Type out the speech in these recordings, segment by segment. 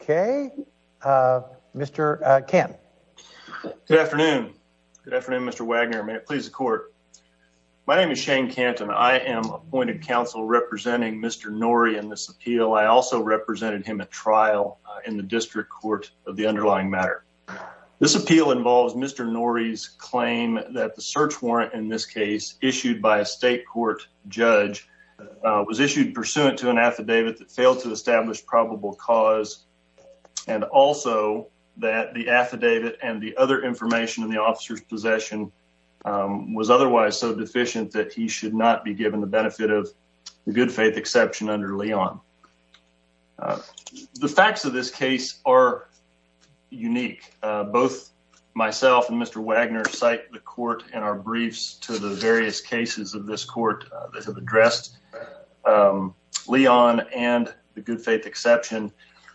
Okay, uh, Mr Camp. Good afternoon. Good afternoon, Mr Wagner. May it please the court. My name is Shane Canton. I am appointed counsel representing Mr Norey in this appeal. I also represented him at trial in the district court of the underlying matter. This appeal involves Mr Norey's claim that the search warrant in this case issued by a state court judge was issued pursuant to an affidavit that failed to establish probable cause and also that the affidavit and the other information in the officer's possession was otherwise so deficient that he should not be given the benefit of good faith exception under Leon. Um, the facts of this case are unique. Both myself and Mr Wagner cite the court in our briefs to the various cases of this court that have addressed, um, Leon and the good faith exception.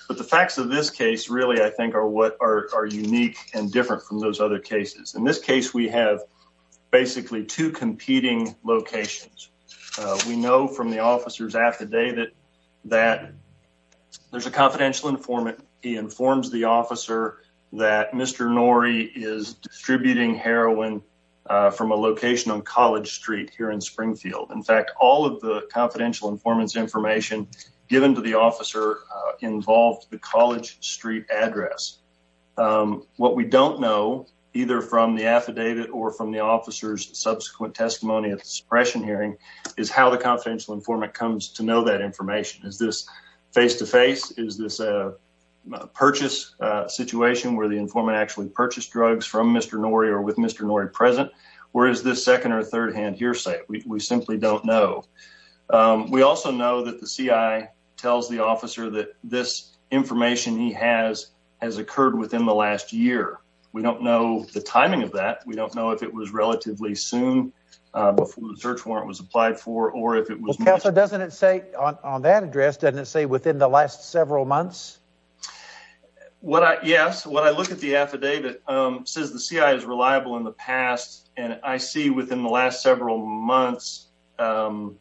But the facts of this case really, I think, are what are unique and different from those other cases. In this case, we have basically two competing locations. We know from the officer's affidavit that there's a confidential informant. He informs the officer that Mr Norey is distributing heroin from a location on College Street here in Springfield. In fact, all of the confidential informants information given to the officer involved the College Street address. Um, what we don't know either from the affidavit or from the officer's subsequent testimony at the suppression hearing is how the confidential informant comes to know that information. Is this face to face? Is this a purchase situation where the informant actually purchased drugs from Mr Norey or with Mr Norey present? Or is this second or third hand hearsay? We simply don't know. Um, we also know that the CIA tells the officer that this information he has has occurred within the last year. We don't know the timing of that. We don't know if it was relatively soon before the search warrant was applied for or if it was. Counselor doesn't say on that address, doesn't say within the last several months. What? Yes. When I look at the affidavit, um, says the CIA is reliable in the past and I see within the last several months. Um,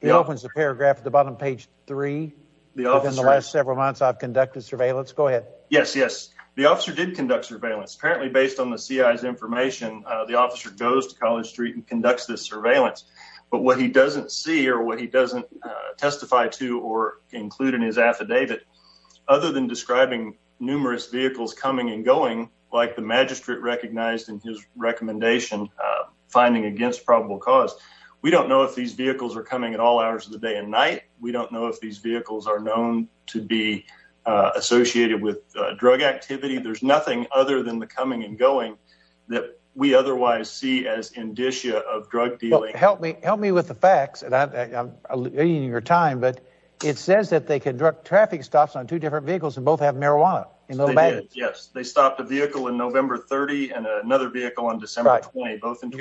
he opens the paragraph at the bottom page three. The officer in the last several months I've conducted surveillance. Let's go ahead. Yes. Yes. The officer did conduct surveillance apparently based on the CIA's information. The officer goes to College Street and conducts this surveillance. But what he doesn't see or what he doesn't testify to or include in his affidavit other than describing numerous vehicles coming and going like the magistrate recognized in his recommendation finding against probable cause. We don't know if these vehicles are coming at all hours of the day and night. We don't know if these vehicles are known to be associated with drug activity. There's nothing other than the coming and going that we otherwise see as indicia of drug dealing. Help me. Help me with the facts. And I'm in your time. But it says that they can direct traffic stops on two different vehicles and both have marijuana in the bag. Yes, they stopped a vehicle in November 30 and another vehicle on December 20. Both. And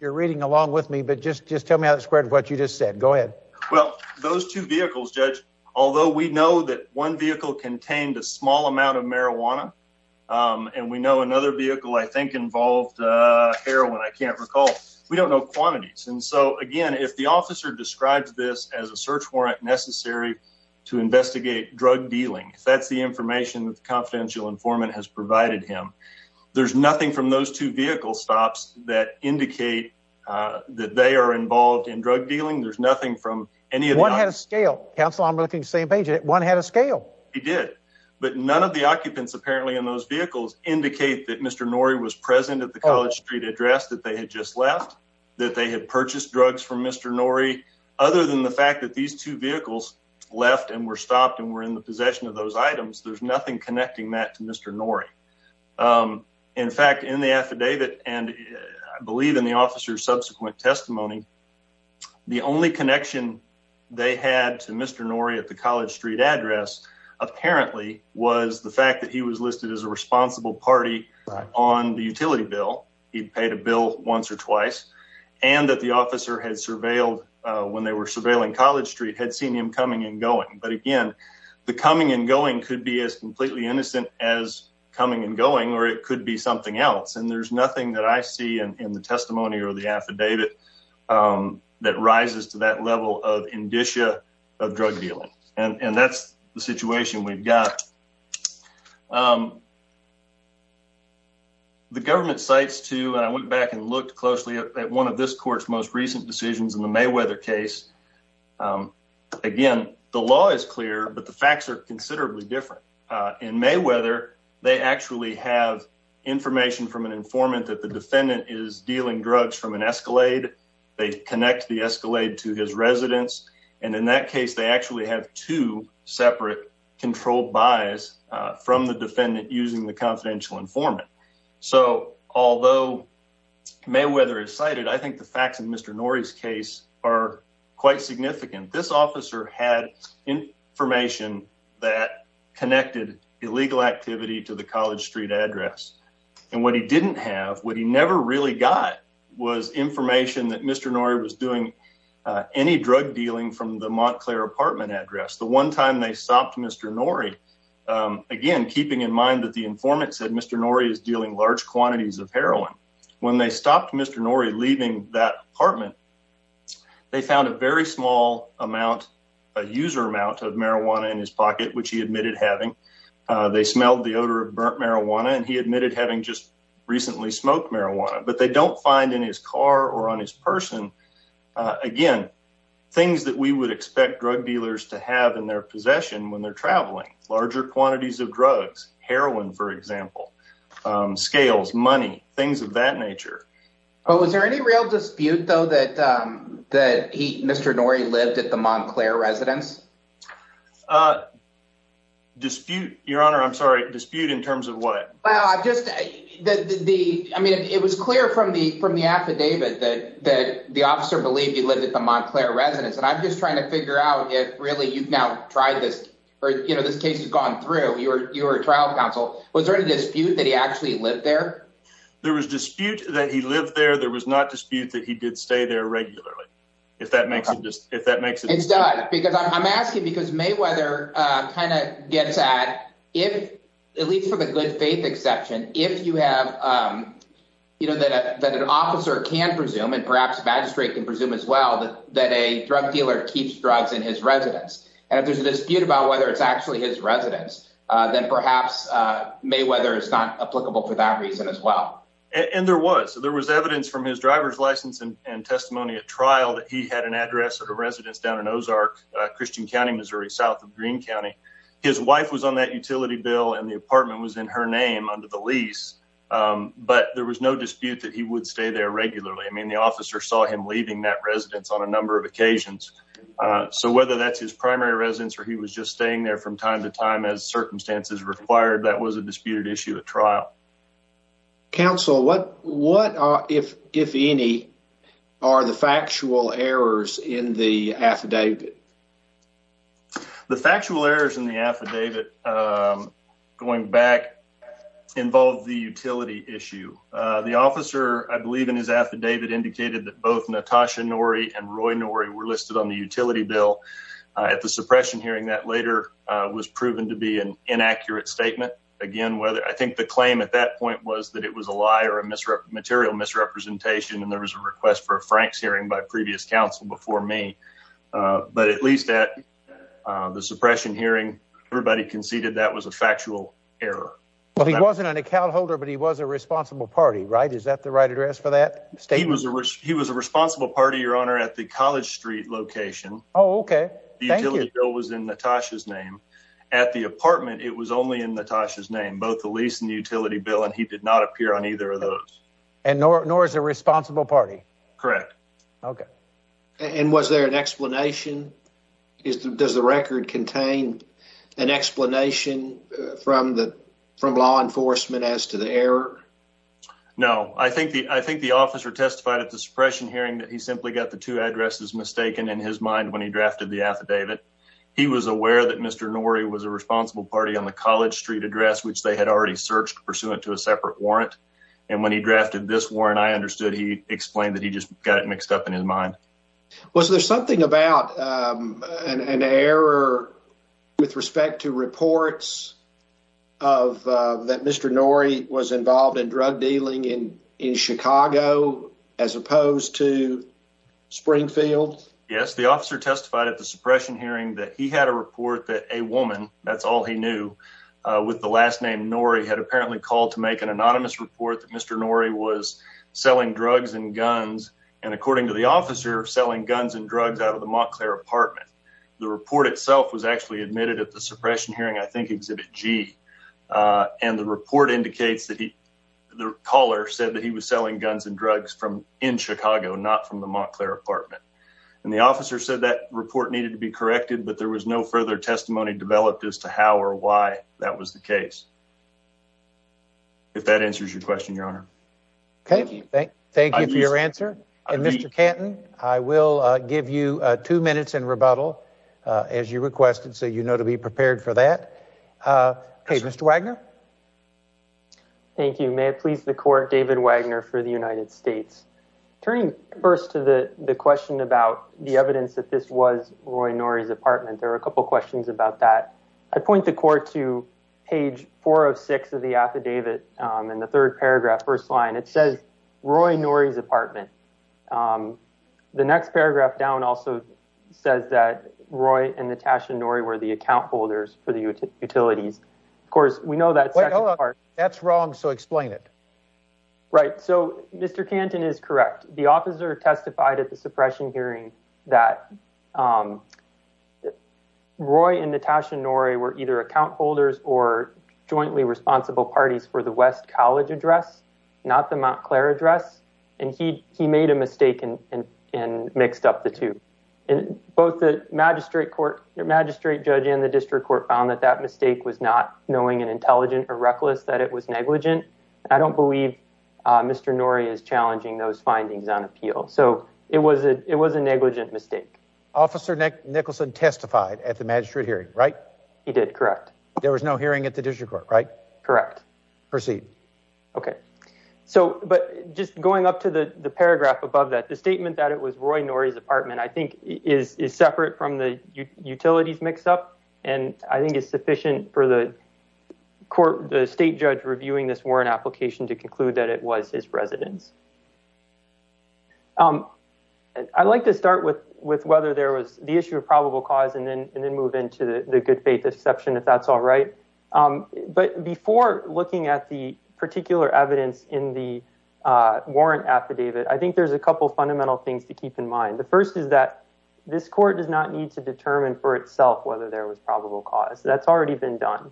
you're reading along with me. But just just tell me how it squared what you just said. Go ahead. Well, those two vehicles, Judge, although we know that one vehicle contained a small amount of marijuana and we know another vehicle I think involved heroin, I can't recall. We don't know quantities. And so, again, if the officer describes this as a search warrant necessary to investigate drug dealing, that's the information that the confidential informant has provided him. There's nothing from those two vehicle stops that indicate that they are involved in drug dealing. There's nothing from any of what had a scale council. I'm looking same page. One had a scale. He did. But none of the occupants apparently in those vehicles indicate that Mr. Norrie was present at the College Street address that they had just left, that they had purchased drugs from Mr. Norrie. Other than the fact that these two vehicles left and were stopped and were in the possession of those items, there's nothing connecting that to Mr. Norrie. In fact, in the affidavit and I believe in the officer's subsequent testimony, the only connection they had to Mr. Norrie at the College Street address apparently was the fact that he was listed as a responsible party on the utility bill. He paid a bill once or twice and that the officer had surveilled when they were surveilling College Street, had seen him coming and going. But again, the coming and going could be as completely innocent as coming and going or it could be something else. And there's nothing that I see in the testimony or the affidavit that rises to that level of indicia of drug dealing. And that's the situation we've got. The government cites to and I went back and looked closely at one of this court's most but the facts are considerably different. In Mayweather, they actually have information from an informant that the defendant is dealing drugs from an escalade. They connect the escalade to his residence. And in that case, they actually have two separate controlled buys from the defendant using the confidential informant. So although Mayweather is cited, I think the officer had information that connected illegal activity to the College Street address. And what he didn't have, what he never really got was information that Mr. Norrie was doing any drug dealing from the Montclair apartment address. The one time they stopped Mr. Norrie, again, keeping in mind that the informant said Mr. Norrie is dealing large quantities of heroin. When they stopped Mr. Norrie leaving that apartment, they found a very small amount, a user amount of marijuana in his pocket, which he admitted having. They smelled the odor of burnt marijuana, and he admitted having just recently smoked marijuana. But they don't find in his car or on his person, again, things that we would expect drug dealers to have in their possession when they're traveling. Larger quantities of drugs, heroin, for example, scales, money, things of that nature. But was there any real dispute, though, that Mr. Norrie lived at the Montclair residence? Dispute? Your Honor, I'm sorry. Dispute in terms of what? Well, I mean, it was clear from the affidavit that the officer believed he lived at the Montclair residence. And I'm just trying to figure out if really you've now tried this, you know, this case has gone through your trial counsel. Was there any dispute that he actually lived there? There was dispute that he lived there. There was not dispute that he did stay there regularly, if that makes sense. It does. I'm asking because Mayweather kind of gets at, at least from a good faith exception, if you have, you know, that an officer can presume, and perhaps magistrate can presume as well, that a drug dealer keeps drugs in his residence. And if there's a dispute about whether it's actually his residence, then perhaps Mayweather is not applicable for that reason as well. And there was, there was evidence from his driver's license and testimony at trial that he had an address of a residence down in Ozark, Christian County, Missouri, south of Greene County. His wife was on that utility bill and the apartment was in her name under the lease. But there was no dispute that he would stay there regularly. I mean, the officer saw him that residence on a number of occasions. So whether that's his primary residence, or he was just staying there from time to time as circumstances required, that was a disputed issue at trial. Counsel, what, what are, if, if any, are the factual errors in the affidavit? The factual errors in the affidavit, going back, involve the utility issue. The officer, I believe in his affidavit, indicated that both Natasha Norrie and Roy Norrie were listed on the utility bill. At the suppression hearing, that later was proven to be an inaccurate statement. Again, whether, I think the claim at that point was that it was a lie or a misrep, material misrepresentation. And there was a request for a Frank's hearing by previous counsel before me. But at least at the suppression hearing, everybody conceded that was a factual error. Well, he wasn't an account holder, but he was a responsible party, right? Is that the right address for that statement? He was a, he was a responsible party, your honor, at the College Street location. Oh, okay. The utility bill was in Natasha's name. At the apartment, it was only in Natasha's name, both the lease and the utility bill, and he did not appear on either of those. And nor, nor is a responsible party. Correct. Okay. And was there an explanation? Is the, does the record contain an explanation from the, from law enforcement as to the error? No, I think the, I think the officer testified at the suppression hearing that he simply got the two addresses mistaken in his mind when he drafted the affidavit. He was aware that Mr. Norrie was a responsible party on the College Street address, which they had already searched pursuant to a separate warrant. And when he drafted this warrant, I understood he explained that he just got it with respect to reports of, uh, that Mr. Norrie was involved in drug dealing in, in Chicago, as opposed to Springfield. Yes. The officer testified at the suppression hearing that he had a report that a woman, that's all he knew, uh, with the last name Norrie had apparently called to make an anonymous report that Mr. Norrie was selling drugs and guns. And according to the officer selling guns and drugs out of the Montclair apartment, the report itself was actually admitted at the suppression hearing, I think exhibit G. Uh, and the report indicates that he, the caller said that he was selling guns and drugs from, in Chicago, not from the Montclair apartment. And the officer said that report needed to be corrected, but there was no further testimony developed as to how or why that was the case. If that answers your question, your honor. Okay. Thank you for your answer. And Mr. Canton, I will, uh, give you two minutes in rebuttal, uh, as you requested. So, you know, to be prepared for that. Uh, Hey, Mr. Wagner. Thank you. May it please the court, David Wagner for the United States. Turning first to the question about the evidence that this was Roy Norrie's apartment. There were a couple of questions about that. I point the court to page four of six of the affidavit. Um, the third paragraph, first line, it says Roy Norrie's apartment. Um, the next paragraph down also says that Roy and Natasha Norrie were the account holders for the utilities. Of course, we know that that's wrong. So explain it. Right. So Mr. Canton is correct. The officer testified at the suppression hearing that, um, Roy and Natasha Norrie were either account holders or not the Mount Claire address. And he, he made a mistake and, and, and mixed up the two both the magistrate court, the magistrate judge and the district court found that that mistake was not knowing and intelligent or reckless that it was negligent. I don't believe, uh, Mr. Norrie is challenging those findings on appeal. So it was a, it was a negligent mistake. Officer Nick Nicholson testified at the magistrate hearing, right? He did. Correct. There was no at the district court, right? Correct. Proceed. Okay. So, but just going up to the paragraph above that, the statement that it was Roy Norrie's apartment, I think is, is separate from the utilities mix up. And I think it's sufficient for the court, the state judge reviewing this warrant application to conclude that it was his residence. Um, I like to start with, with whether there was the issue of probable cause and then, and then move into the good faith exception if that's all right. Um, but before looking at the particular evidence in the, uh, warrant affidavit, I think there's a couple of fundamental things to keep in mind. The first is that this court does not need to determine for itself whether there was probable cause that's already been done.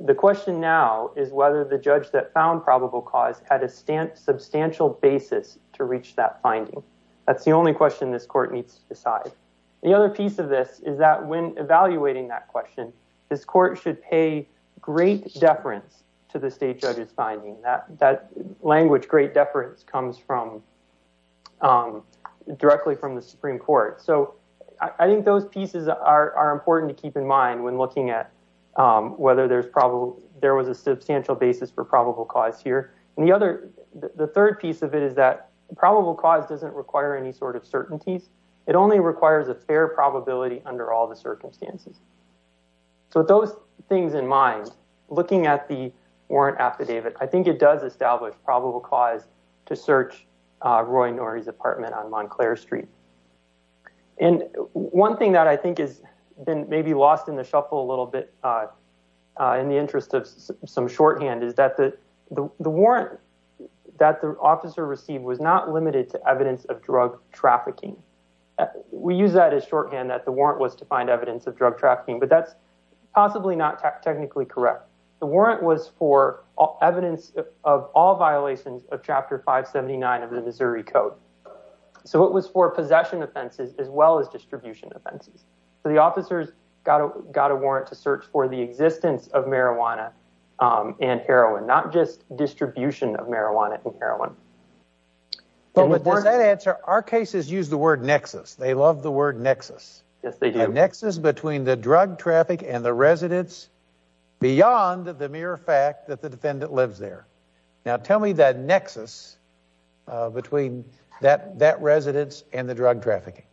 The question now is whether the judge that found probable cause had a stance, substantial basis to reach that finding. That's the only question this court needs to decide. The other piece of this is that when evaluating that question, this court should pay great deference to the state judge's finding that that language, great deference comes from, um, directly from the Supreme court. So I think those pieces are important to keep in mind when looking at, um, whether there's probable, there was a substantial basis for probable cause here. And the other, the third piece of it is that probable cause doesn't require any sort of it only requires a fair probability under all the circumstances. So those things in mind, looking at the warrant affidavit, I think it does establish probable cause to search, uh, Roy Norey's apartment on Montclair street. And one thing that I think has been maybe lost in the shuffle a little bit, uh, uh, in the interest of some shorthand is that the, the, the warrant that the officer received was not limited to evidence of drug trafficking. We use that as shorthand that the warrant was to find evidence of drug trafficking, but that's possibly not technically correct. The warrant was for all evidence of all violations of chapter five 79 of the Missouri code. So it was for possession offenses as well as distribution offenses. So the officers got a, got a warrant to search for the existence of marijuana, um, and heroin, not just distribution of marijuana and heroin. But does that answer our cases? Use the word nexus. They love the word nexus. Yes, they do have nexus between the drug traffic and the residents beyond the mere fact that the defendant lives there. Now tell me that nexus, uh, between that, that residents and the drug trafficking.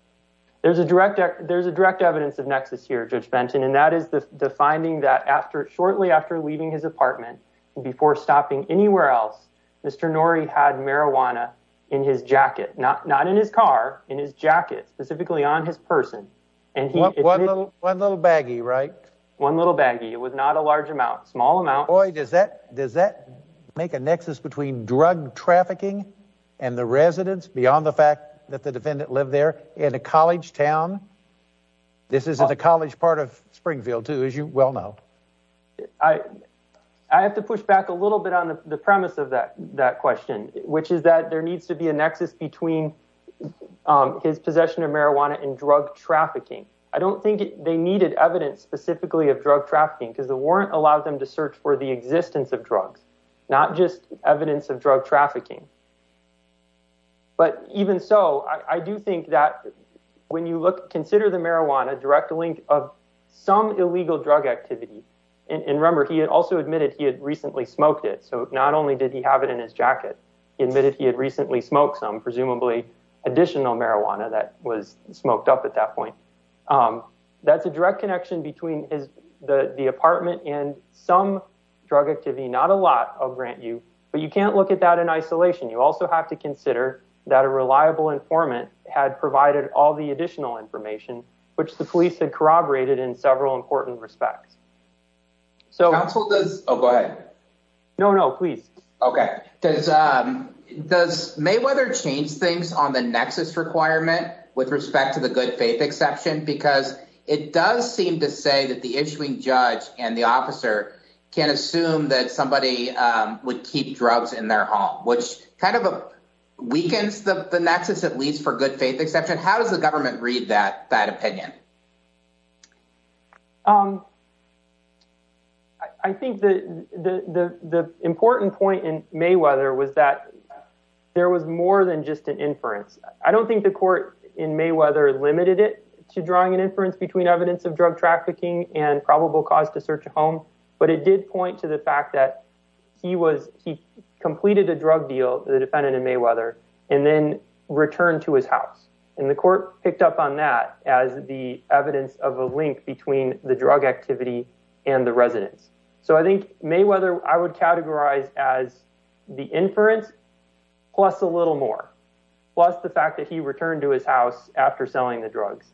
There's a direct, there's a direct evidence of nexus here, and that is the, the finding that after shortly after leaving his apartment before stopping anywhere else, Mr. Norrie had marijuana in his jacket, not, not in his car, in his jacket, specifically on his person. And he, one little, one little baggie, right? One little baggie. It was not a large amount, small amount. Does that, does that make a nexus between drug trafficking and the residents beyond the fact that the defendant lived there in a town? This isn't the college part of Springfield too, as you well know. I, I have to push back a little bit on the premise of that, that question, which is that there needs to be a nexus between, um, his possession of marijuana and drug trafficking. I don't think they needed evidence specifically of drug trafficking because the warrant allowed them to search for the existence of drugs, not just evidence of drug trafficking. But even so, I do think that when you look, consider the marijuana direct link of some illegal drug activity, and remember, he had also admitted he had recently smoked it. So not only did he have it in his jacket, he admitted he had recently smoked some, presumably additional marijuana that was smoked up at that point. Um, that's a direct connection between his, the, the apartment and some drug activity, not a lot, I'll grant you, but you can't look at that isolation. You also have to consider that a reliable informant had provided all the additional information, which the police had corroborated in several important respects. So counsel does, Oh, go ahead. No, no, please. Okay. Does, um, does Mayweather change things on the nexus requirement with respect to the good faith exception? Because it does seem to say that the issuing judge and the officer can assume that somebody, um, would keep drugs in their home, which kind of weakens the nexus, at least for good faith exception. How does the government read that, that opinion? Um, I think the, the, the, the important point in Mayweather was that there was more than just an inference. I don't think the court in Mayweather limited it to drawing an inference between evidence of drug trafficking and probable cause to search a home, but it did point to the fact that he was, he completed a drug deal, the defendant in Mayweather and then returned to his house. And the court picked up on that as the evidence of a link between the drug activity and the residents. So I think Mayweather, I would categorize as the inference plus a little more, plus the fact that he returned to his house after selling the same evidence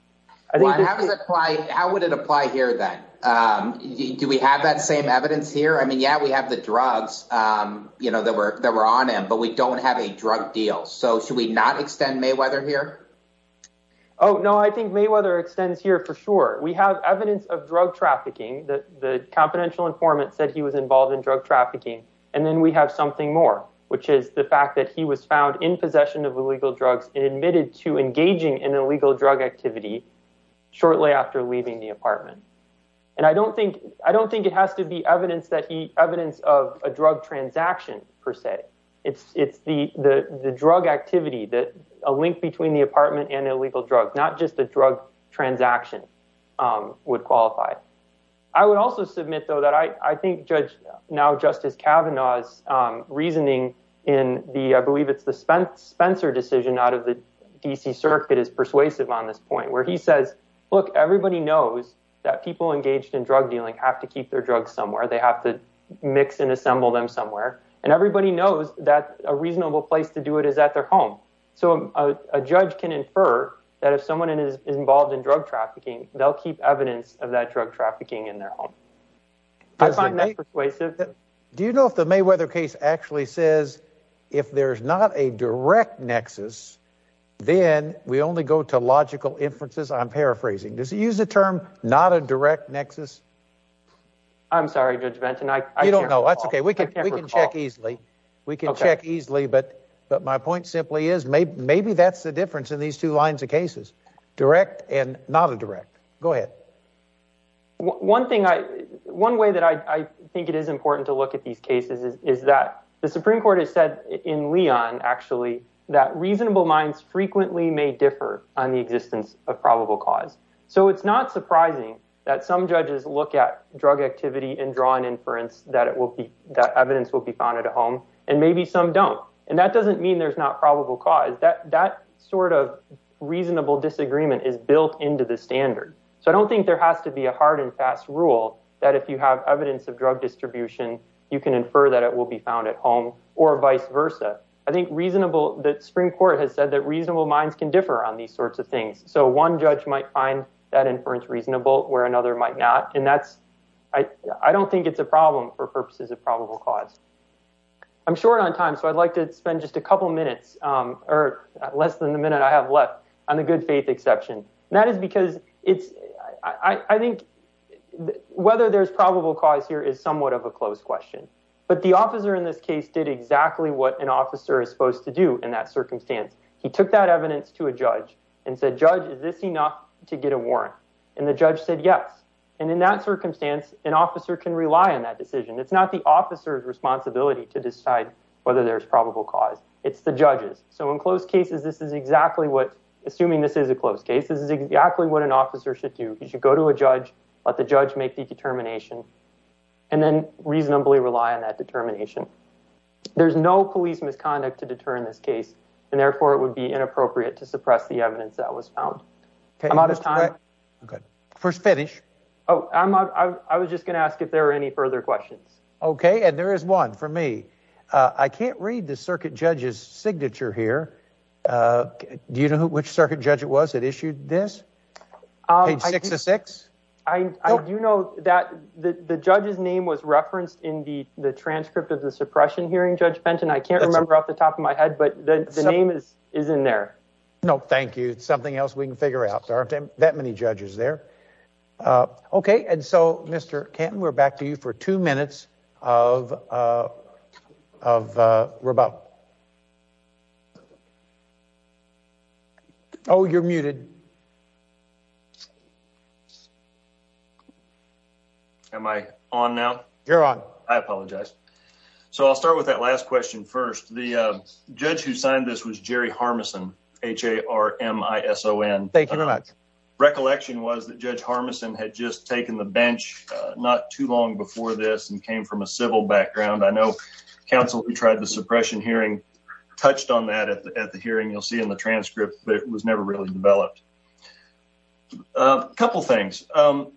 here. I mean, yeah, we have the drugs, um, you know, that were, that were on him, but we don't have a drug deal. So should we not extend Mayweather here? Oh, no, I think Mayweather extends here for sure. We have evidence of drug trafficking that the confidential informant said he was involved in drug trafficking. And then we have something more, which is the fact that he was found in possession of illegal drugs and admitted to engaging in illegal drug activity shortly after leaving the apartment. And I don't think, I don't think it has to be evidence that he evidence of a drug transaction per se. It's, it's the, the, the drug activity that a link between the apartment and illegal drugs, not just the drug transaction, um, would qualify. I would also submit though, that I, I think judge now justice Kavanaugh's, um, reasoning in the, I believe it's the Spence Spencer decision out of the DC circuit is persuasive on this point where he says, look, everybody knows that people engaged in drug dealing have to keep their drugs somewhere. They have to mix and assemble them somewhere. And everybody knows that a reasonable place to do it is at their home. So a judge can infer that if someone is involved in drug trafficking, they'll keep evidence of that drug trafficking in their home. I find that persuasive. Do you know if the Mayweather case actually says if there's not a direct nexus, then we only go to logical inferences. I'm paraphrasing. Does he use the term not a direct nexus? I'm sorry, judge Benton. I don't know. That's okay. We can check easily. We can check easily. But, but my point simply is maybe, maybe that's the difference in these two lines of cases, direct and not a direct, go ahead. One thing I, one way that I think it is important to look at is that the Supreme Court has said in Leon, actually, that reasonable minds frequently may differ on the existence of probable cause. So it's not surprising that some judges look at drug activity and draw an inference that it will be, that evidence will be found at a home. And maybe some don't. And that doesn't mean there's not probable cause that, that sort of reasonable disagreement is built into the standard. So I don't think there has to be a hard and fast rule that if you have evidence of drug distribution, you can infer that it will be found at home or vice versa. I think reasonable that Supreme Court has said that reasonable minds can differ on these sorts of things. So one judge might find that inference reasonable where another might not. And that's, I don't think it's a problem for purposes of probable cause. I'm short on time. So I'd like to spend just a couple minutes or less than the minute I have left on the good faith exception. And that is because it's, I think whether there's probable cause here is somewhat of a closed question. But the officer in this case did exactly what an officer is supposed to do in that circumstance. He took that evidence to a judge and said, judge, is this enough to get a warrant? And the judge said, yes. And in that circumstance, an officer can rely on that decision. It's not the officer's responsibility to decide whether there's probable cause. It's the judges. So in closed cases, this is exactly what, assuming this is a closed case, this is exactly what an officer should do. You should go to a judge, let the judge make the determination, and then reasonably rely on that determination. There's no police misconduct to deter in this case, and therefore it would be inappropriate to suppress the evidence that was found. I'm out of time. First finish. Oh, I was just going to ask if there are any further questions. Okay. And there is one for me. Uh, I can't read the circuit judge's signature here. Uh, do you know which circuit judge it was that issued this page six to six? I do know that the judge's name was referenced in the, the transcript of the suppression hearing judge Benton. I can't remember off the top of my head, but the name is, is in there. Nope. Thank you. It's something else we can figure out. There aren't that many judges there. Uh, okay. And so Mr. Kenton, we're back to you for two minutes of, uh, of, uh, we're about. Oh, you're muted. Am I on now? You're on. I apologize. So I'll start with that last question first. The, uh, judge who signed this was Jerry Harmison, H-A-R-M-I-S-O-N. Thank you very much. Recollection was that judge Harmison had just taken the bench, uh, not too long before this and came from a civil background. I know counsel who tried the suppression hearing touched on that at the, at the hearing you'll see in the transcript, but it was never really developed. A couple of things, um,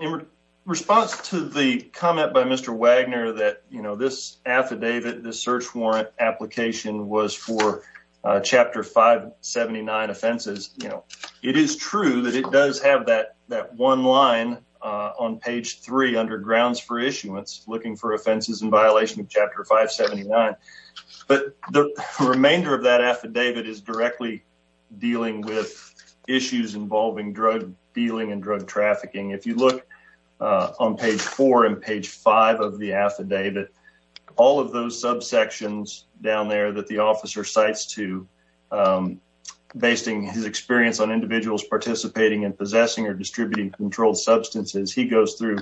in response to the comment by Mr. Wagner that, you know, this affidavit, this search warrant application was for, uh, chapter 579 offenses. You know, it is true that it does have that, that one line, uh, on page three under grounds for issuance, looking for offenses in violation of chapter 579. But the remainder of that affidavit is directly dealing with issues involving drug dealing and drug trafficking. If you look, uh, on page four and page five of the affidavit, all of those subsections down there that the officer cites to, um, basing his experience on individuals participating in possessing or distributing controlled substances, he goes through,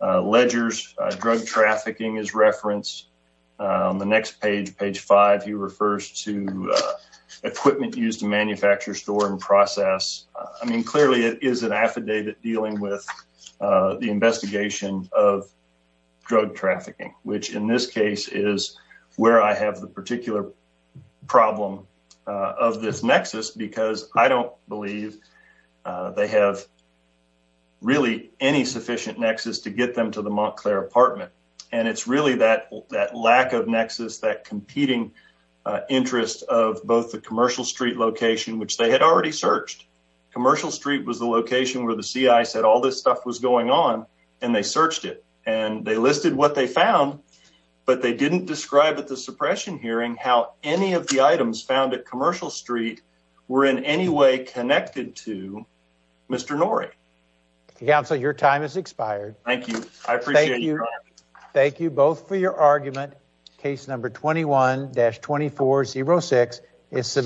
uh, ledgers, uh, drug trafficking is referenced. Um, the next page, page five, he refers to, uh, equipment used to manufacture, store and process. I mean, clearly it is an affidavit dealing with, uh, the investigation of drug trafficking, which in this case is where I have the particular problem, uh, of this nexus, because I don't believe, uh, they have really any sufficient nexus to get them to the Montclair apartment. And it's really that, that lack of nexus, that competing, uh, interest of both the commercial street location, which they had already searched. Commercial street was the location where the CI said all this stuff was going on and they searched it and they listed what they found, but they didn't describe at the suppression hearing how any of the items found at commercial street were in any way connected to Mr. Norrie. Counsel, your time has expired. Thank you. I appreciate you. Thank you both for your argument. Case number 21-2406 is